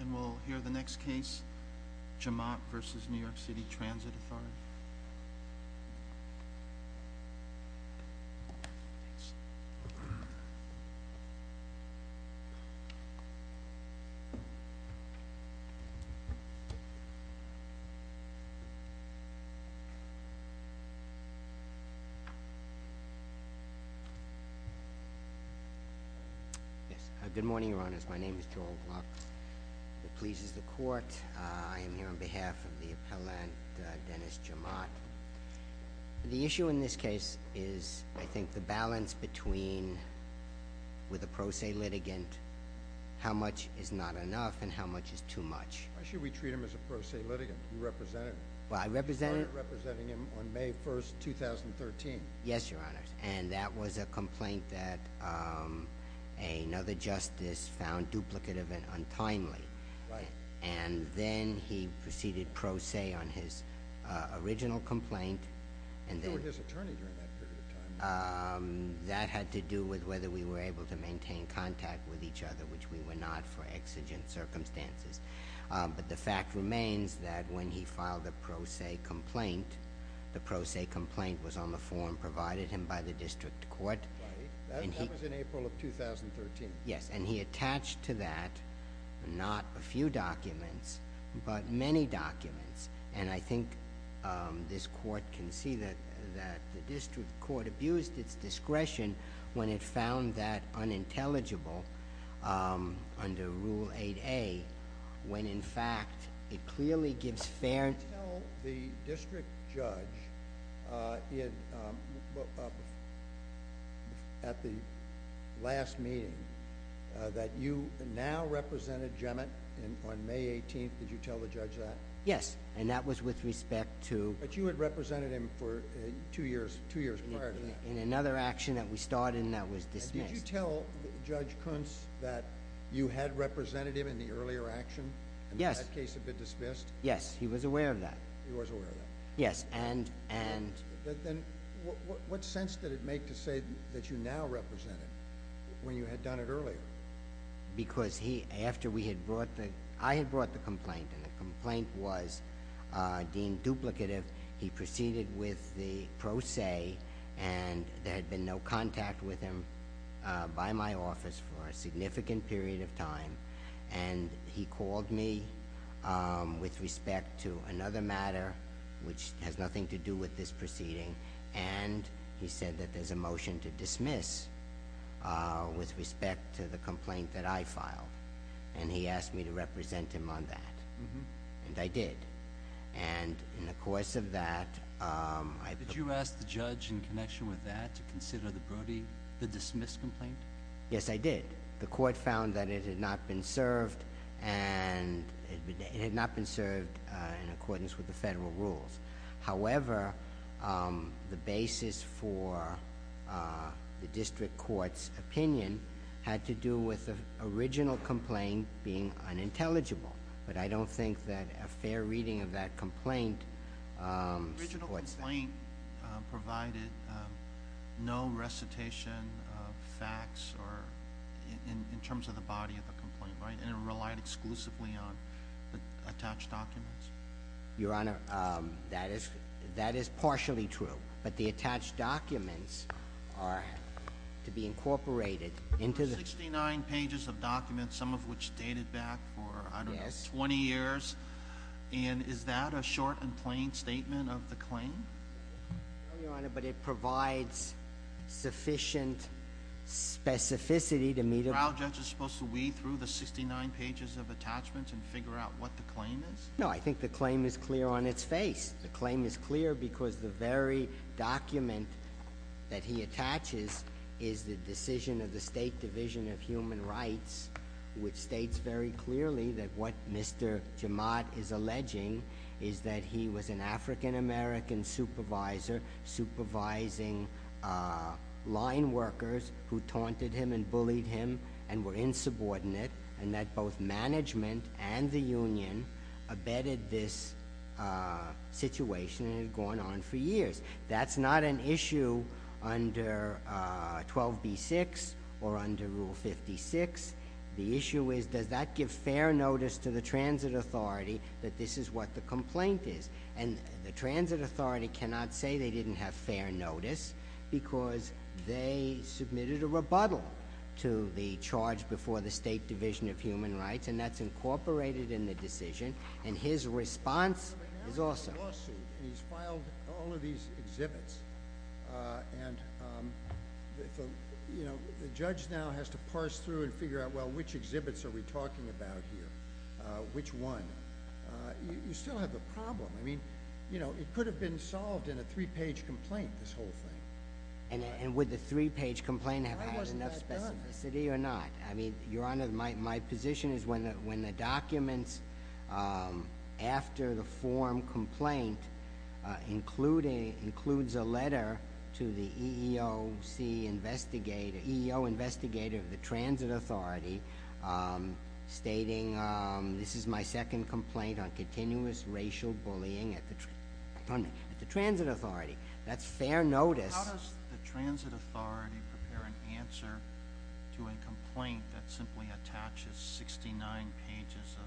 And we'll hear the next case, Jemmott v. NYC Transit Authority. Good morning, Your Honors. My name is Joel Gluck. It pleases the Court. I am here on behalf of the appellant, Dennis Jemmott. The issue in this case is, I think, the balance between, with a pro se litigant, how much is not enough and how much is too much. Why should we treat him as a pro se litigant? You represented him. Well, I represented him. You started representing him on May 1, 2013. Yes, Your Honors. And that was a complaint that another justice found duplicative and untimely. Right. And then he proceeded pro se on his original complaint. You were his attorney during that period of time. That had to do with whether we were able to maintain contact with each other, which we were not for exigent circumstances. But the fact remains that when he filed the pro se complaint, the pro se complaint was on the form provided him by the District Court. Right. That was in April of 2013. Yes. And he attached to that, not a few documents, but many documents. And I think this Court can see that the District Court abused its discretion when it found that unintelligible under Rule 8A, when in fact it clearly gives fair... Did you tell the district judge at the last meeting that you now represented Jemmett on May 18th? Did you tell the judge that? Yes. And that was with respect to... But you had represented him for two years prior to that. In another action that we started and that was dismissed. Did you tell Judge Kuntz that you had represented him in the earlier action and in that case had been dismissed? Yes. He was aware of that. He was aware of that. Yes. And... What sense did it make to say that you now represented him when you had done it earlier? Because he, after we had brought the... I had brought the complaint and the complaint was deemed duplicative, he proceeded with the pro se and there had been no contact with him by my office for a significant period of time. And he called me with respect to another matter, which has nothing to do with this proceeding, and he said that there's a motion to dismiss with respect to the complaint that I filed. And he asked me to represent him on that, and I did. And in the course of that, I... Did you ask the judge in connection with that to consider the Brody, the dismissed complaint? Yes, I did. The court found that it had not been served and it had not been served in accordance with the federal rules. However, the basis for the district court's opinion had to do with the original complaint being unintelligible. But I don't think that a fair reading of that complaint... The complaint provided no recitation of facts or... in terms of the body of the complaint, right? And it relied exclusively on the attached documents? Your Honor, that is partially true, but the attached documents are to be incorporated into the... Sixty-nine pages of documents, some of which dated back for, I don't know, 20 years, and Is that a short and plain statement of the claim? No, Your Honor, but it provides sufficient specificity to meet... Are our judges supposed to weed through the 69 pages of attachments and figure out what the claim is? No, I think the claim is clear on its face. The claim is clear because the very document that he attaches is the decision of the State Division of Human Rights, which states very clearly that what Mr. Jamad is alleging is that he was an African-American supervisor, supervising line workers who taunted him and bullied him and were insubordinate, and that both management and the union abetted this situation, and it had gone on for years. That's not an issue under 12b-6 or under Rule 56. The issue is, does that give fair notice to the Transit Authority that this is what the complaint is? And the Transit Authority cannot say they didn't have fair notice because they submitted a rebuttal to the charge before the State Division of Human Rights, and that's incorporated And he's filed all of these exhibits, and the judge now has to parse through and figure out, well, which exhibits are we talking about here? Which one? You still have the problem. I mean, you know, it could have been solved in a three-page complaint, this whole thing. And would the three-page complaint have had enough specificity or not? Why wasn't that done? I mean, Your Honor, my position is when the documents after the form complaint includes a letter to the EEO investigator of the Transit Authority stating, this is my second complaint on continuous racial bullying at the Transit Authority, that's fair notice. How does the Transit Authority prepare an answer to a complaint that simply attaches 69 pages of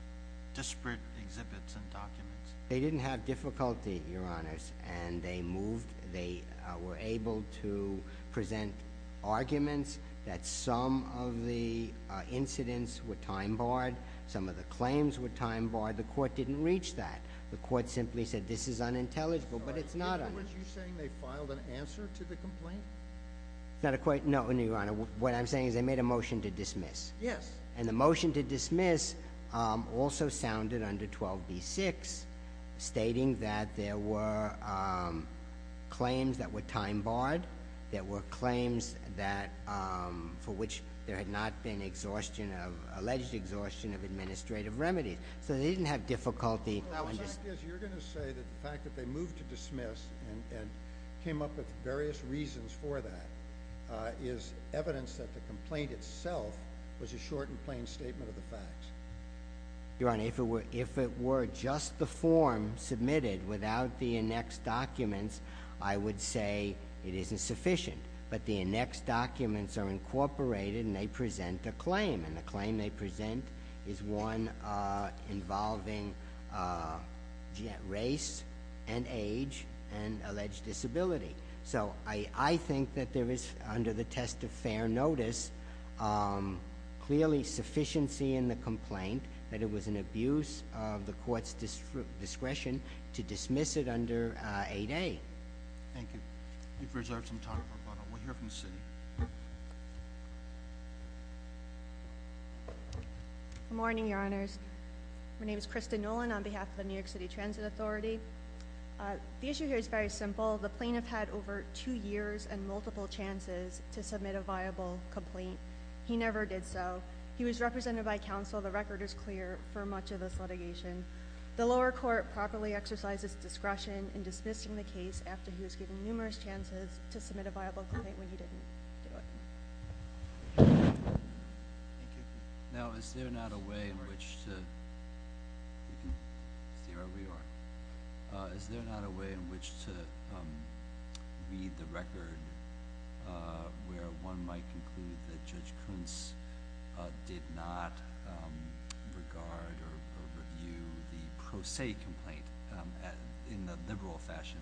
disparate exhibits and documents? They didn't have difficulty, Your Honors, and they moved, they were able to present arguments that some of the incidents were time barred, some of the claims were time barred. The court didn't reach that. The court simply said, this is unintelligible, but it's not, Your Honor. In other words, you're saying they filed an answer to the complaint? No, Your Honor, what I'm saying is they made a motion to dismiss. Yes. And the motion to dismiss also sounded under 12b-6, stating that there were claims that were time barred, there were claims that, for which there had not been exhaustion of, alleged exhaustion of administrative remedies. So they didn't have difficulty. Your Honor, the fact is, you're going to say that the fact that they moved to dismiss and came up with various reasons for that is evidence that the complaint itself was a short and plain statement of the facts. Your Honor, if it were just the form submitted without the annexed documents, I would say it isn't sufficient. But the annexed documents are incorporated and they present a claim, and the claim they have is race and age and alleged disability. So I think that there is, under the test of fair notice, clearly sufficiency in the complaint that it was an abuse of the court's discretion to dismiss it under 8a. Thank you. We've reserved some time for a follow-up. We'll hear from the city. Good morning, Your Honors. My name is Kristin Nolan on behalf of the New York City Transit Authority. The issue here is very simple. The plaintiff had over two years and multiple chances to submit a viable complaint. He never did so. He was represented by counsel. The record is clear for much of this litigation. The lower court properly exercises discretion in dismissing the case after he was given numerous chances to submit a viable complaint when he didn't do it. Thank you. Now, is there not a way in which to read the record where one might conclude that Judge Kuntz did not regard or review the pro se complaint in the liberal fashion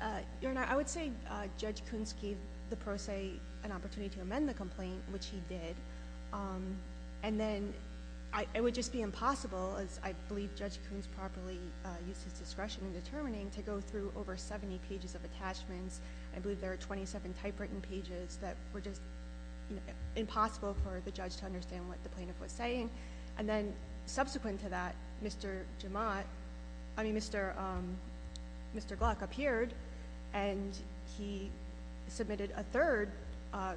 that we required? Your Honor, I would say Judge Kuntz gave the pro se an opportunity to amend the complaint, which he did. Then, it would just be impossible, as I believe Judge Kuntz properly used his discretion in determining, to go through over 70 pages of attachments. I believe there are 27 typewritten pages that were just impossible for the judge to understand what the plaintiff was saying. Subsequent to that, Mr. Gluck appeared and he submitted a third... I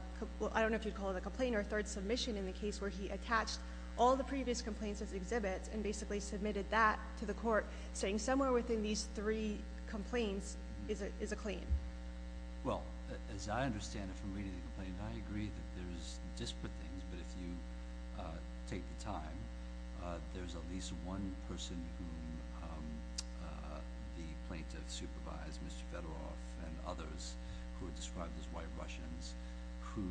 don't know if you'd call it a complaint or a third submission in the case where he attached all the previous complaints as exhibits and basically submitted that to the court, saying somewhere within these three complaints is a claim. Well, as I understand it from reading the complaint, I agree that there's disparate things, but if you take the time, there's at least one person whom the plaintiff supervised, Mr. Fedorov and others who are described as white Russians, who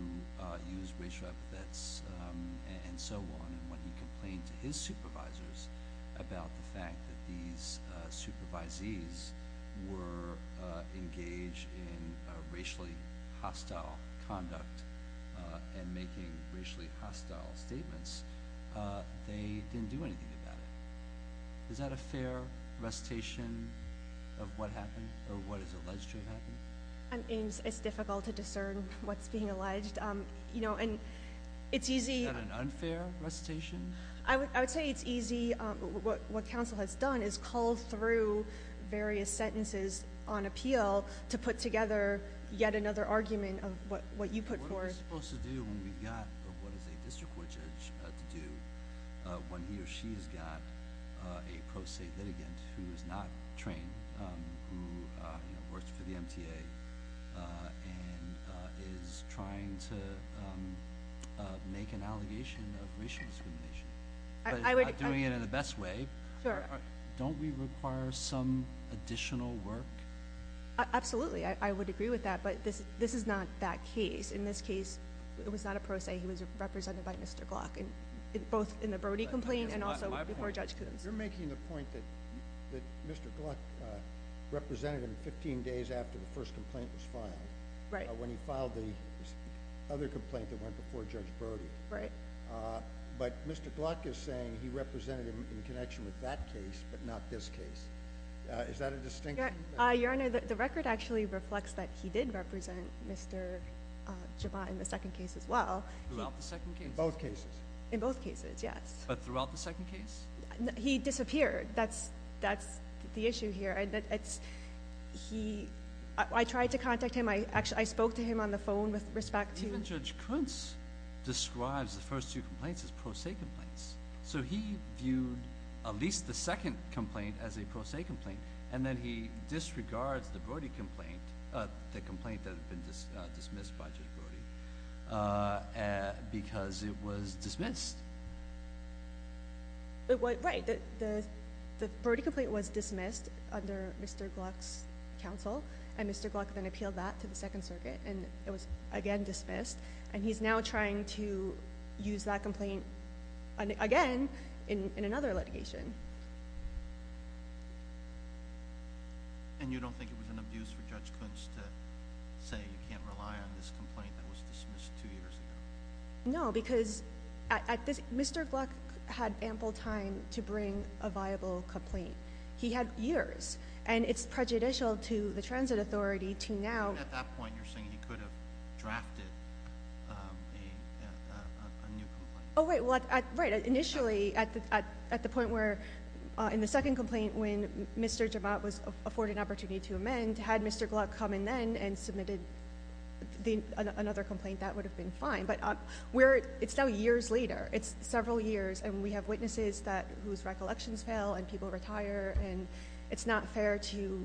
use racial epithets and so on. When he complained to his supervisors about the fact that these supervisees were engaged in racially hostile conduct and making racially hostile statements, they didn't do anything about it. Is that a fair recitation of what happened or what is alleged to have happened? It's difficult to discern what's being alleged. You know, and it's easy... Is that an unfair recitation? I would say it's easy. What counsel has done is call through various sentences on appeal to put together yet another argument of what you put forth. What are we supposed to do when we've got what is a district court judge to do when he or she has got a pro se litigant who is not trained, who works for the MTA, and is trying to make an allegation of racial discrimination? But he's not doing it in the best way. Sure. Don't we require some additional work? Absolutely. I would agree with that, but this is not that case. In this case, it was not a pro se. He was represented by Mr. Gluck, both in the Brody complaint and also before Judge Coons. You're making the point that Mr. Gluck represented him 15 days after the first complaint was filed, when he filed the other complaint that went before Judge Brody. Right. But Mr. Gluck is saying he represented him in connection with that case, but not this case. Is that a distinction? Your Honor, the record actually reflects that he did represent Mr. Jabot in the second case as well. Throughout the second case? In both cases. In both cases, yes. But throughout the second case? He disappeared. That's the issue here. I tried to contact him. I spoke to him on the phone with respect to— Even Judge Coons describes the first two complaints as pro se complaints, so he viewed at least the second complaint as a pro se complaint, and then he disregards the Brody complaint, the complaint that had been dismissed by Judge Brody, because it was dismissed. Right. The Brody complaint was dismissed under Mr. Gluck's counsel, and Mr. Gluck then appealed that to the Second Circuit, and it was again dismissed, and he's now trying to use that complaint again in another litigation. And you don't think it was an abuse for Judge Coons to say you can't rely on this complaint that was dismissed two years ago? No, because Mr. Gluck had ample time to bring a viable complaint. He had years, and it's prejudicial to the transit authority to now— At that point, you're saying he could have drafted a new complaint? Oh, wait. Right. Initially, at the point where in the second complaint when Mr. Javat was afforded an opportunity to amend, had Mr. Gluck come in then and submitted another complaint, that would have been fine. But it's now years later. It's several years, and we have witnesses whose recollections fail and people retire, and it's not fair to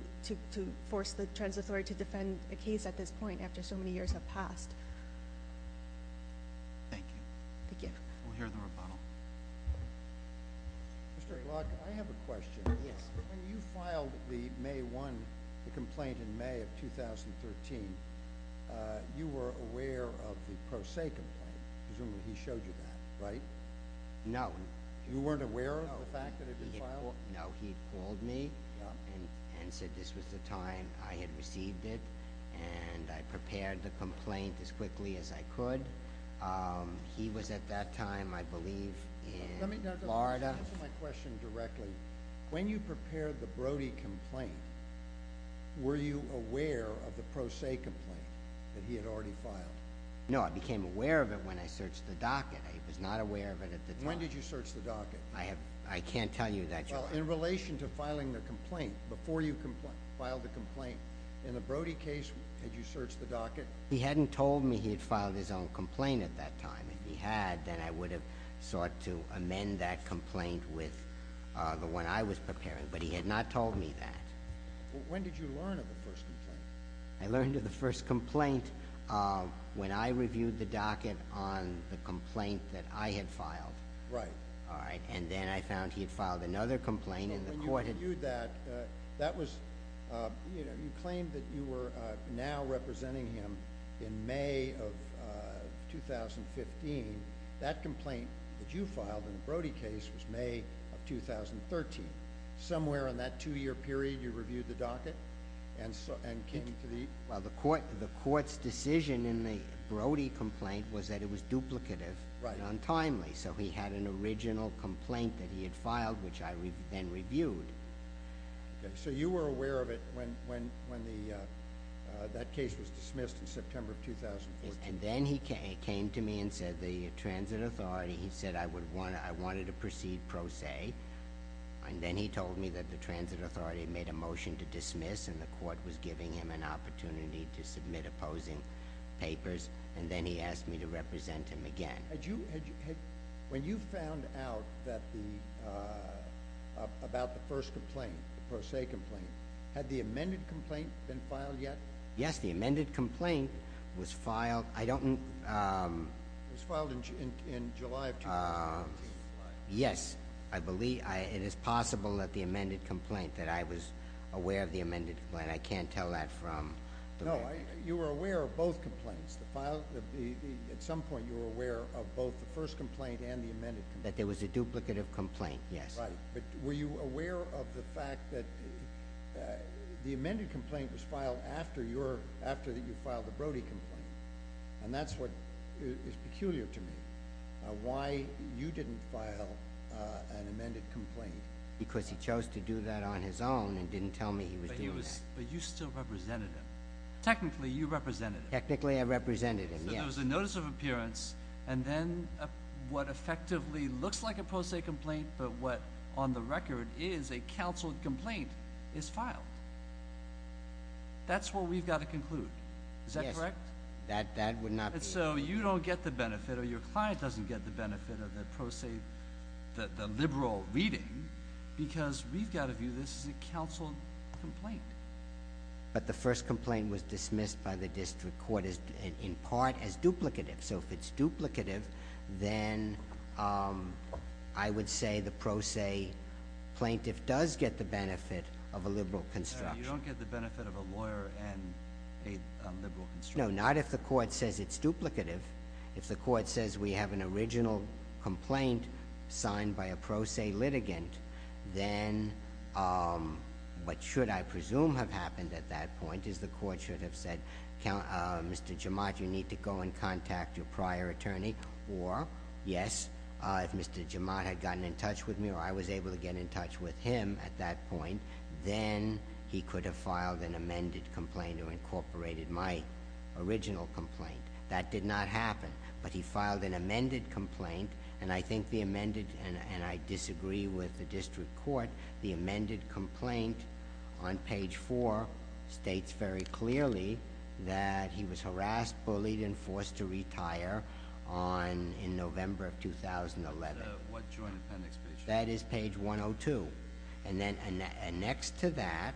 force the transit authority to defend a case at this point after so many years have passed. Thank you. Thank you. We'll hear the rebuttal. Mr. Gluck, I have a question. Yes. When you filed the May 1 complaint in May of 2013, you were aware of the Pro Se complaint. Presumably he showed you that, right? No. You weren't aware of the fact that it had been filed? No. He had called me and said this was the time I had received it, and I prepared the complaint as quickly as I could. He was at that time, I believe, in Florida. Let me answer my question directly. When you prepared the Brody complaint, were you aware of the Pro Se complaint that he had already filed? No. I became aware of it when I searched the docket. I was not aware of it at the time. When did you search the docket? I can't tell you that, Your Honor. Well, in relation to filing the complaint, before you filed the complaint, in the Brody case, did you search the docket? He hadn't told me he had filed his own complaint at that time. If he had, then I would have sought to amend that complaint with the one I was preparing, but he had not told me that. When did you learn of the first complaint? I learned of the first complaint when I reviewed the docket on the complaint that I had filed. Right. All right. Then I found he had filed another complaint, and the court had— When you reviewed that, you claimed that you were now representing him in May of 2015. That complaint that you filed in the Brody case was May of 2013. Somewhere in that two-year period, you reviewed the docket and came to the— Well, the court's decision in the Brody complaint was that it was duplicative and untimely, so he had an original complaint that he had filed, which I then reviewed. Okay. You were aware of it when that case was dismissed in September of 2014? Yes. Then he came to me and said, the transit authority, he said, I wanted to proceed pro se. Then he told me that the transit authority had made a motion to dismiss, and the court was giving him an opportunity to submit opposing papers, and then he asked me to represent him again. When you found out about the first complaint, the pro se complaint, had the amended complaint been filed yet? Yes, the amended complaint was filed. It was filed in July of 2014. Yes, I believe. It is possible that the amended complaint, that I was aware of the amended complaint. I can't tell that from— No, you were aware of both complaints. At some point, you were aware of both the first complaint and the amended complaint. That there was a duplicative complaint, yes. Right, but were you aware of the fact that the amended complaint was filed after you filed the Brody complaint? And that's what is peculiar to me, why you didn't file an amended complaint. Because he chose to do that on his own and didn't tell me he was doing that. But you still represented him. Technically, you represented him. Technically, I represented him, yes. So there was a notice of appearance, and then what effectively looks like a pro se complaint, but what on the record is a counsel complaint, is filed. That's what we've got to conclude. Is that correct? Yes, that would not be— So you don't get the benefit, or your client doesn't get the benefit of the pro se, the liberal reading, because we've got to view this as a counsel complaint. But the first complaint was dismissed by the district court in part as duplicative. So if it's duplicative, then I would say the pro se plaintiff does get the benefit of a liberal construction. So you don't get the benefit of a lawyer and a liberal construction? No, not if the court says it's duplicative. If the court says we have an original complaint signed by a pro se litigant, then what should, I presume, have happened at that point is the court should have said, Mr. Jomot, you need to go and contact your prior attorney, or, yes, if Mr. Jomot had gotten in touch with me or I was able to get in touch with him at that point, then he could have filed an amended complaint or incorporated my original complaint. That did not happen. But he filed an amended complaint, and I think the amended—and I disagree with the district court— the amended complaint on page 4 states very clearly that he was harassed, bullied, and forced to retire in November of 2011. What joint appendix page? That is page 102. And next to that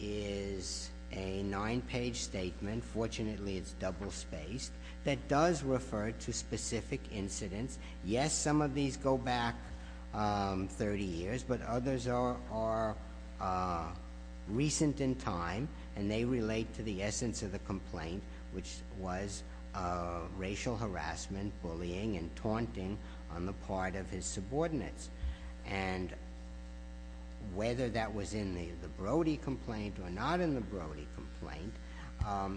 is a nine-page statement—fortunately, it's double-spaced—that does refer to specific incidents. Yes, some of these go back 30 years, but others are recent in time, and they relate to the essence of the complaint, which was racial harassment, bullying, and taunting on the part of his subordinates. And whether that was in the Brody complaint or not in the Brody complaint,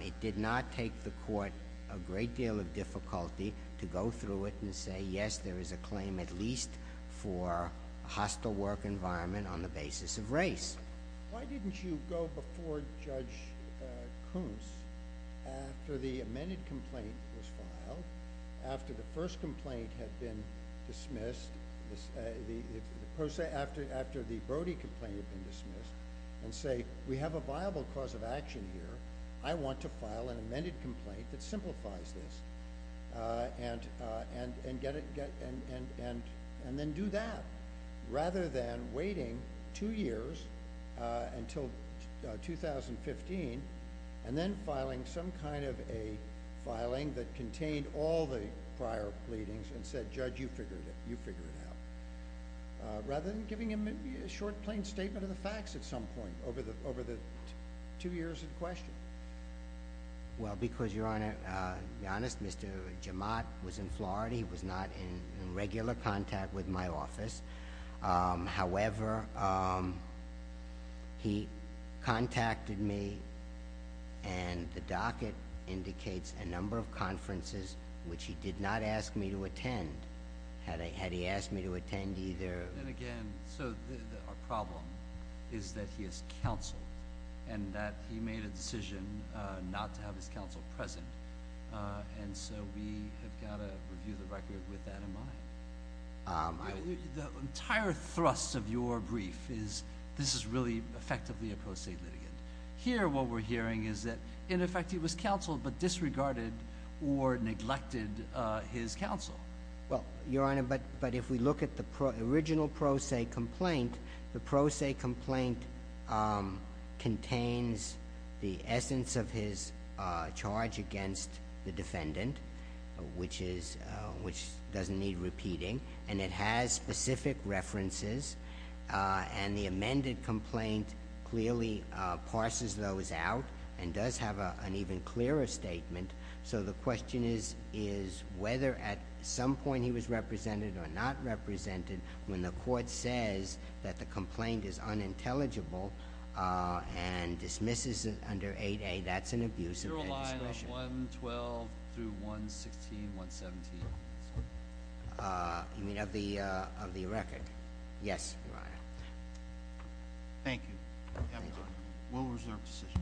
it did not take the court a great deal of difficulty to go through it and say, yes, there is a claim at least for a hostile work environment on the basis of race. Why didn't you go before Judge Koontz after the amended complaint was filed, after the first complaint had been dismissed, after the Brody complaint had been dismissed, and say, we have a viable cause of action here. I want to file an amended complaint that simplifies this, and then do that, rather than waiting two years until 2015, and then filing some kind of a filing that contained all the prior pleadings and said, Judge, you figured it, you figured it out, rather than giving him a short, plain statement of the facts at some point over the two years in question. Well, because, Your Honor, to be honest, Mr. Jomot was in Florida. He was not in regular contact with my office. However, he contacted me, and the docket indicates a number of conferences, which he did not ask me to attend, had he asked me to attend either. And again, so our problem is that he is counseled, and that he made a decision not to have his counsel present, and so we have got to review the record with that in mind. The entire thrust of your brief is this is really effectively a pro se litigant. Here what we're hearing is that, in effect, he was counseled but disregarded or neglected his counsel. Well, Your Honor, but if we look at the original pro se complaint, the pro se complaint contains the essence of his charge against the defendant, which doesn't need repeating, and it has specific references, and the amended complaint clearly parses those out and does have an even clearer statement. So the question is whether at some point he was represented or not represented when the court says that the complaint is unintelligible and dismisses it under 8A. That's an abuse of legislation. You're aligned on 112 through 116, 117. You mean of the record? Yes, Your Honor. Thank you. Thank you. We'll reserve the session.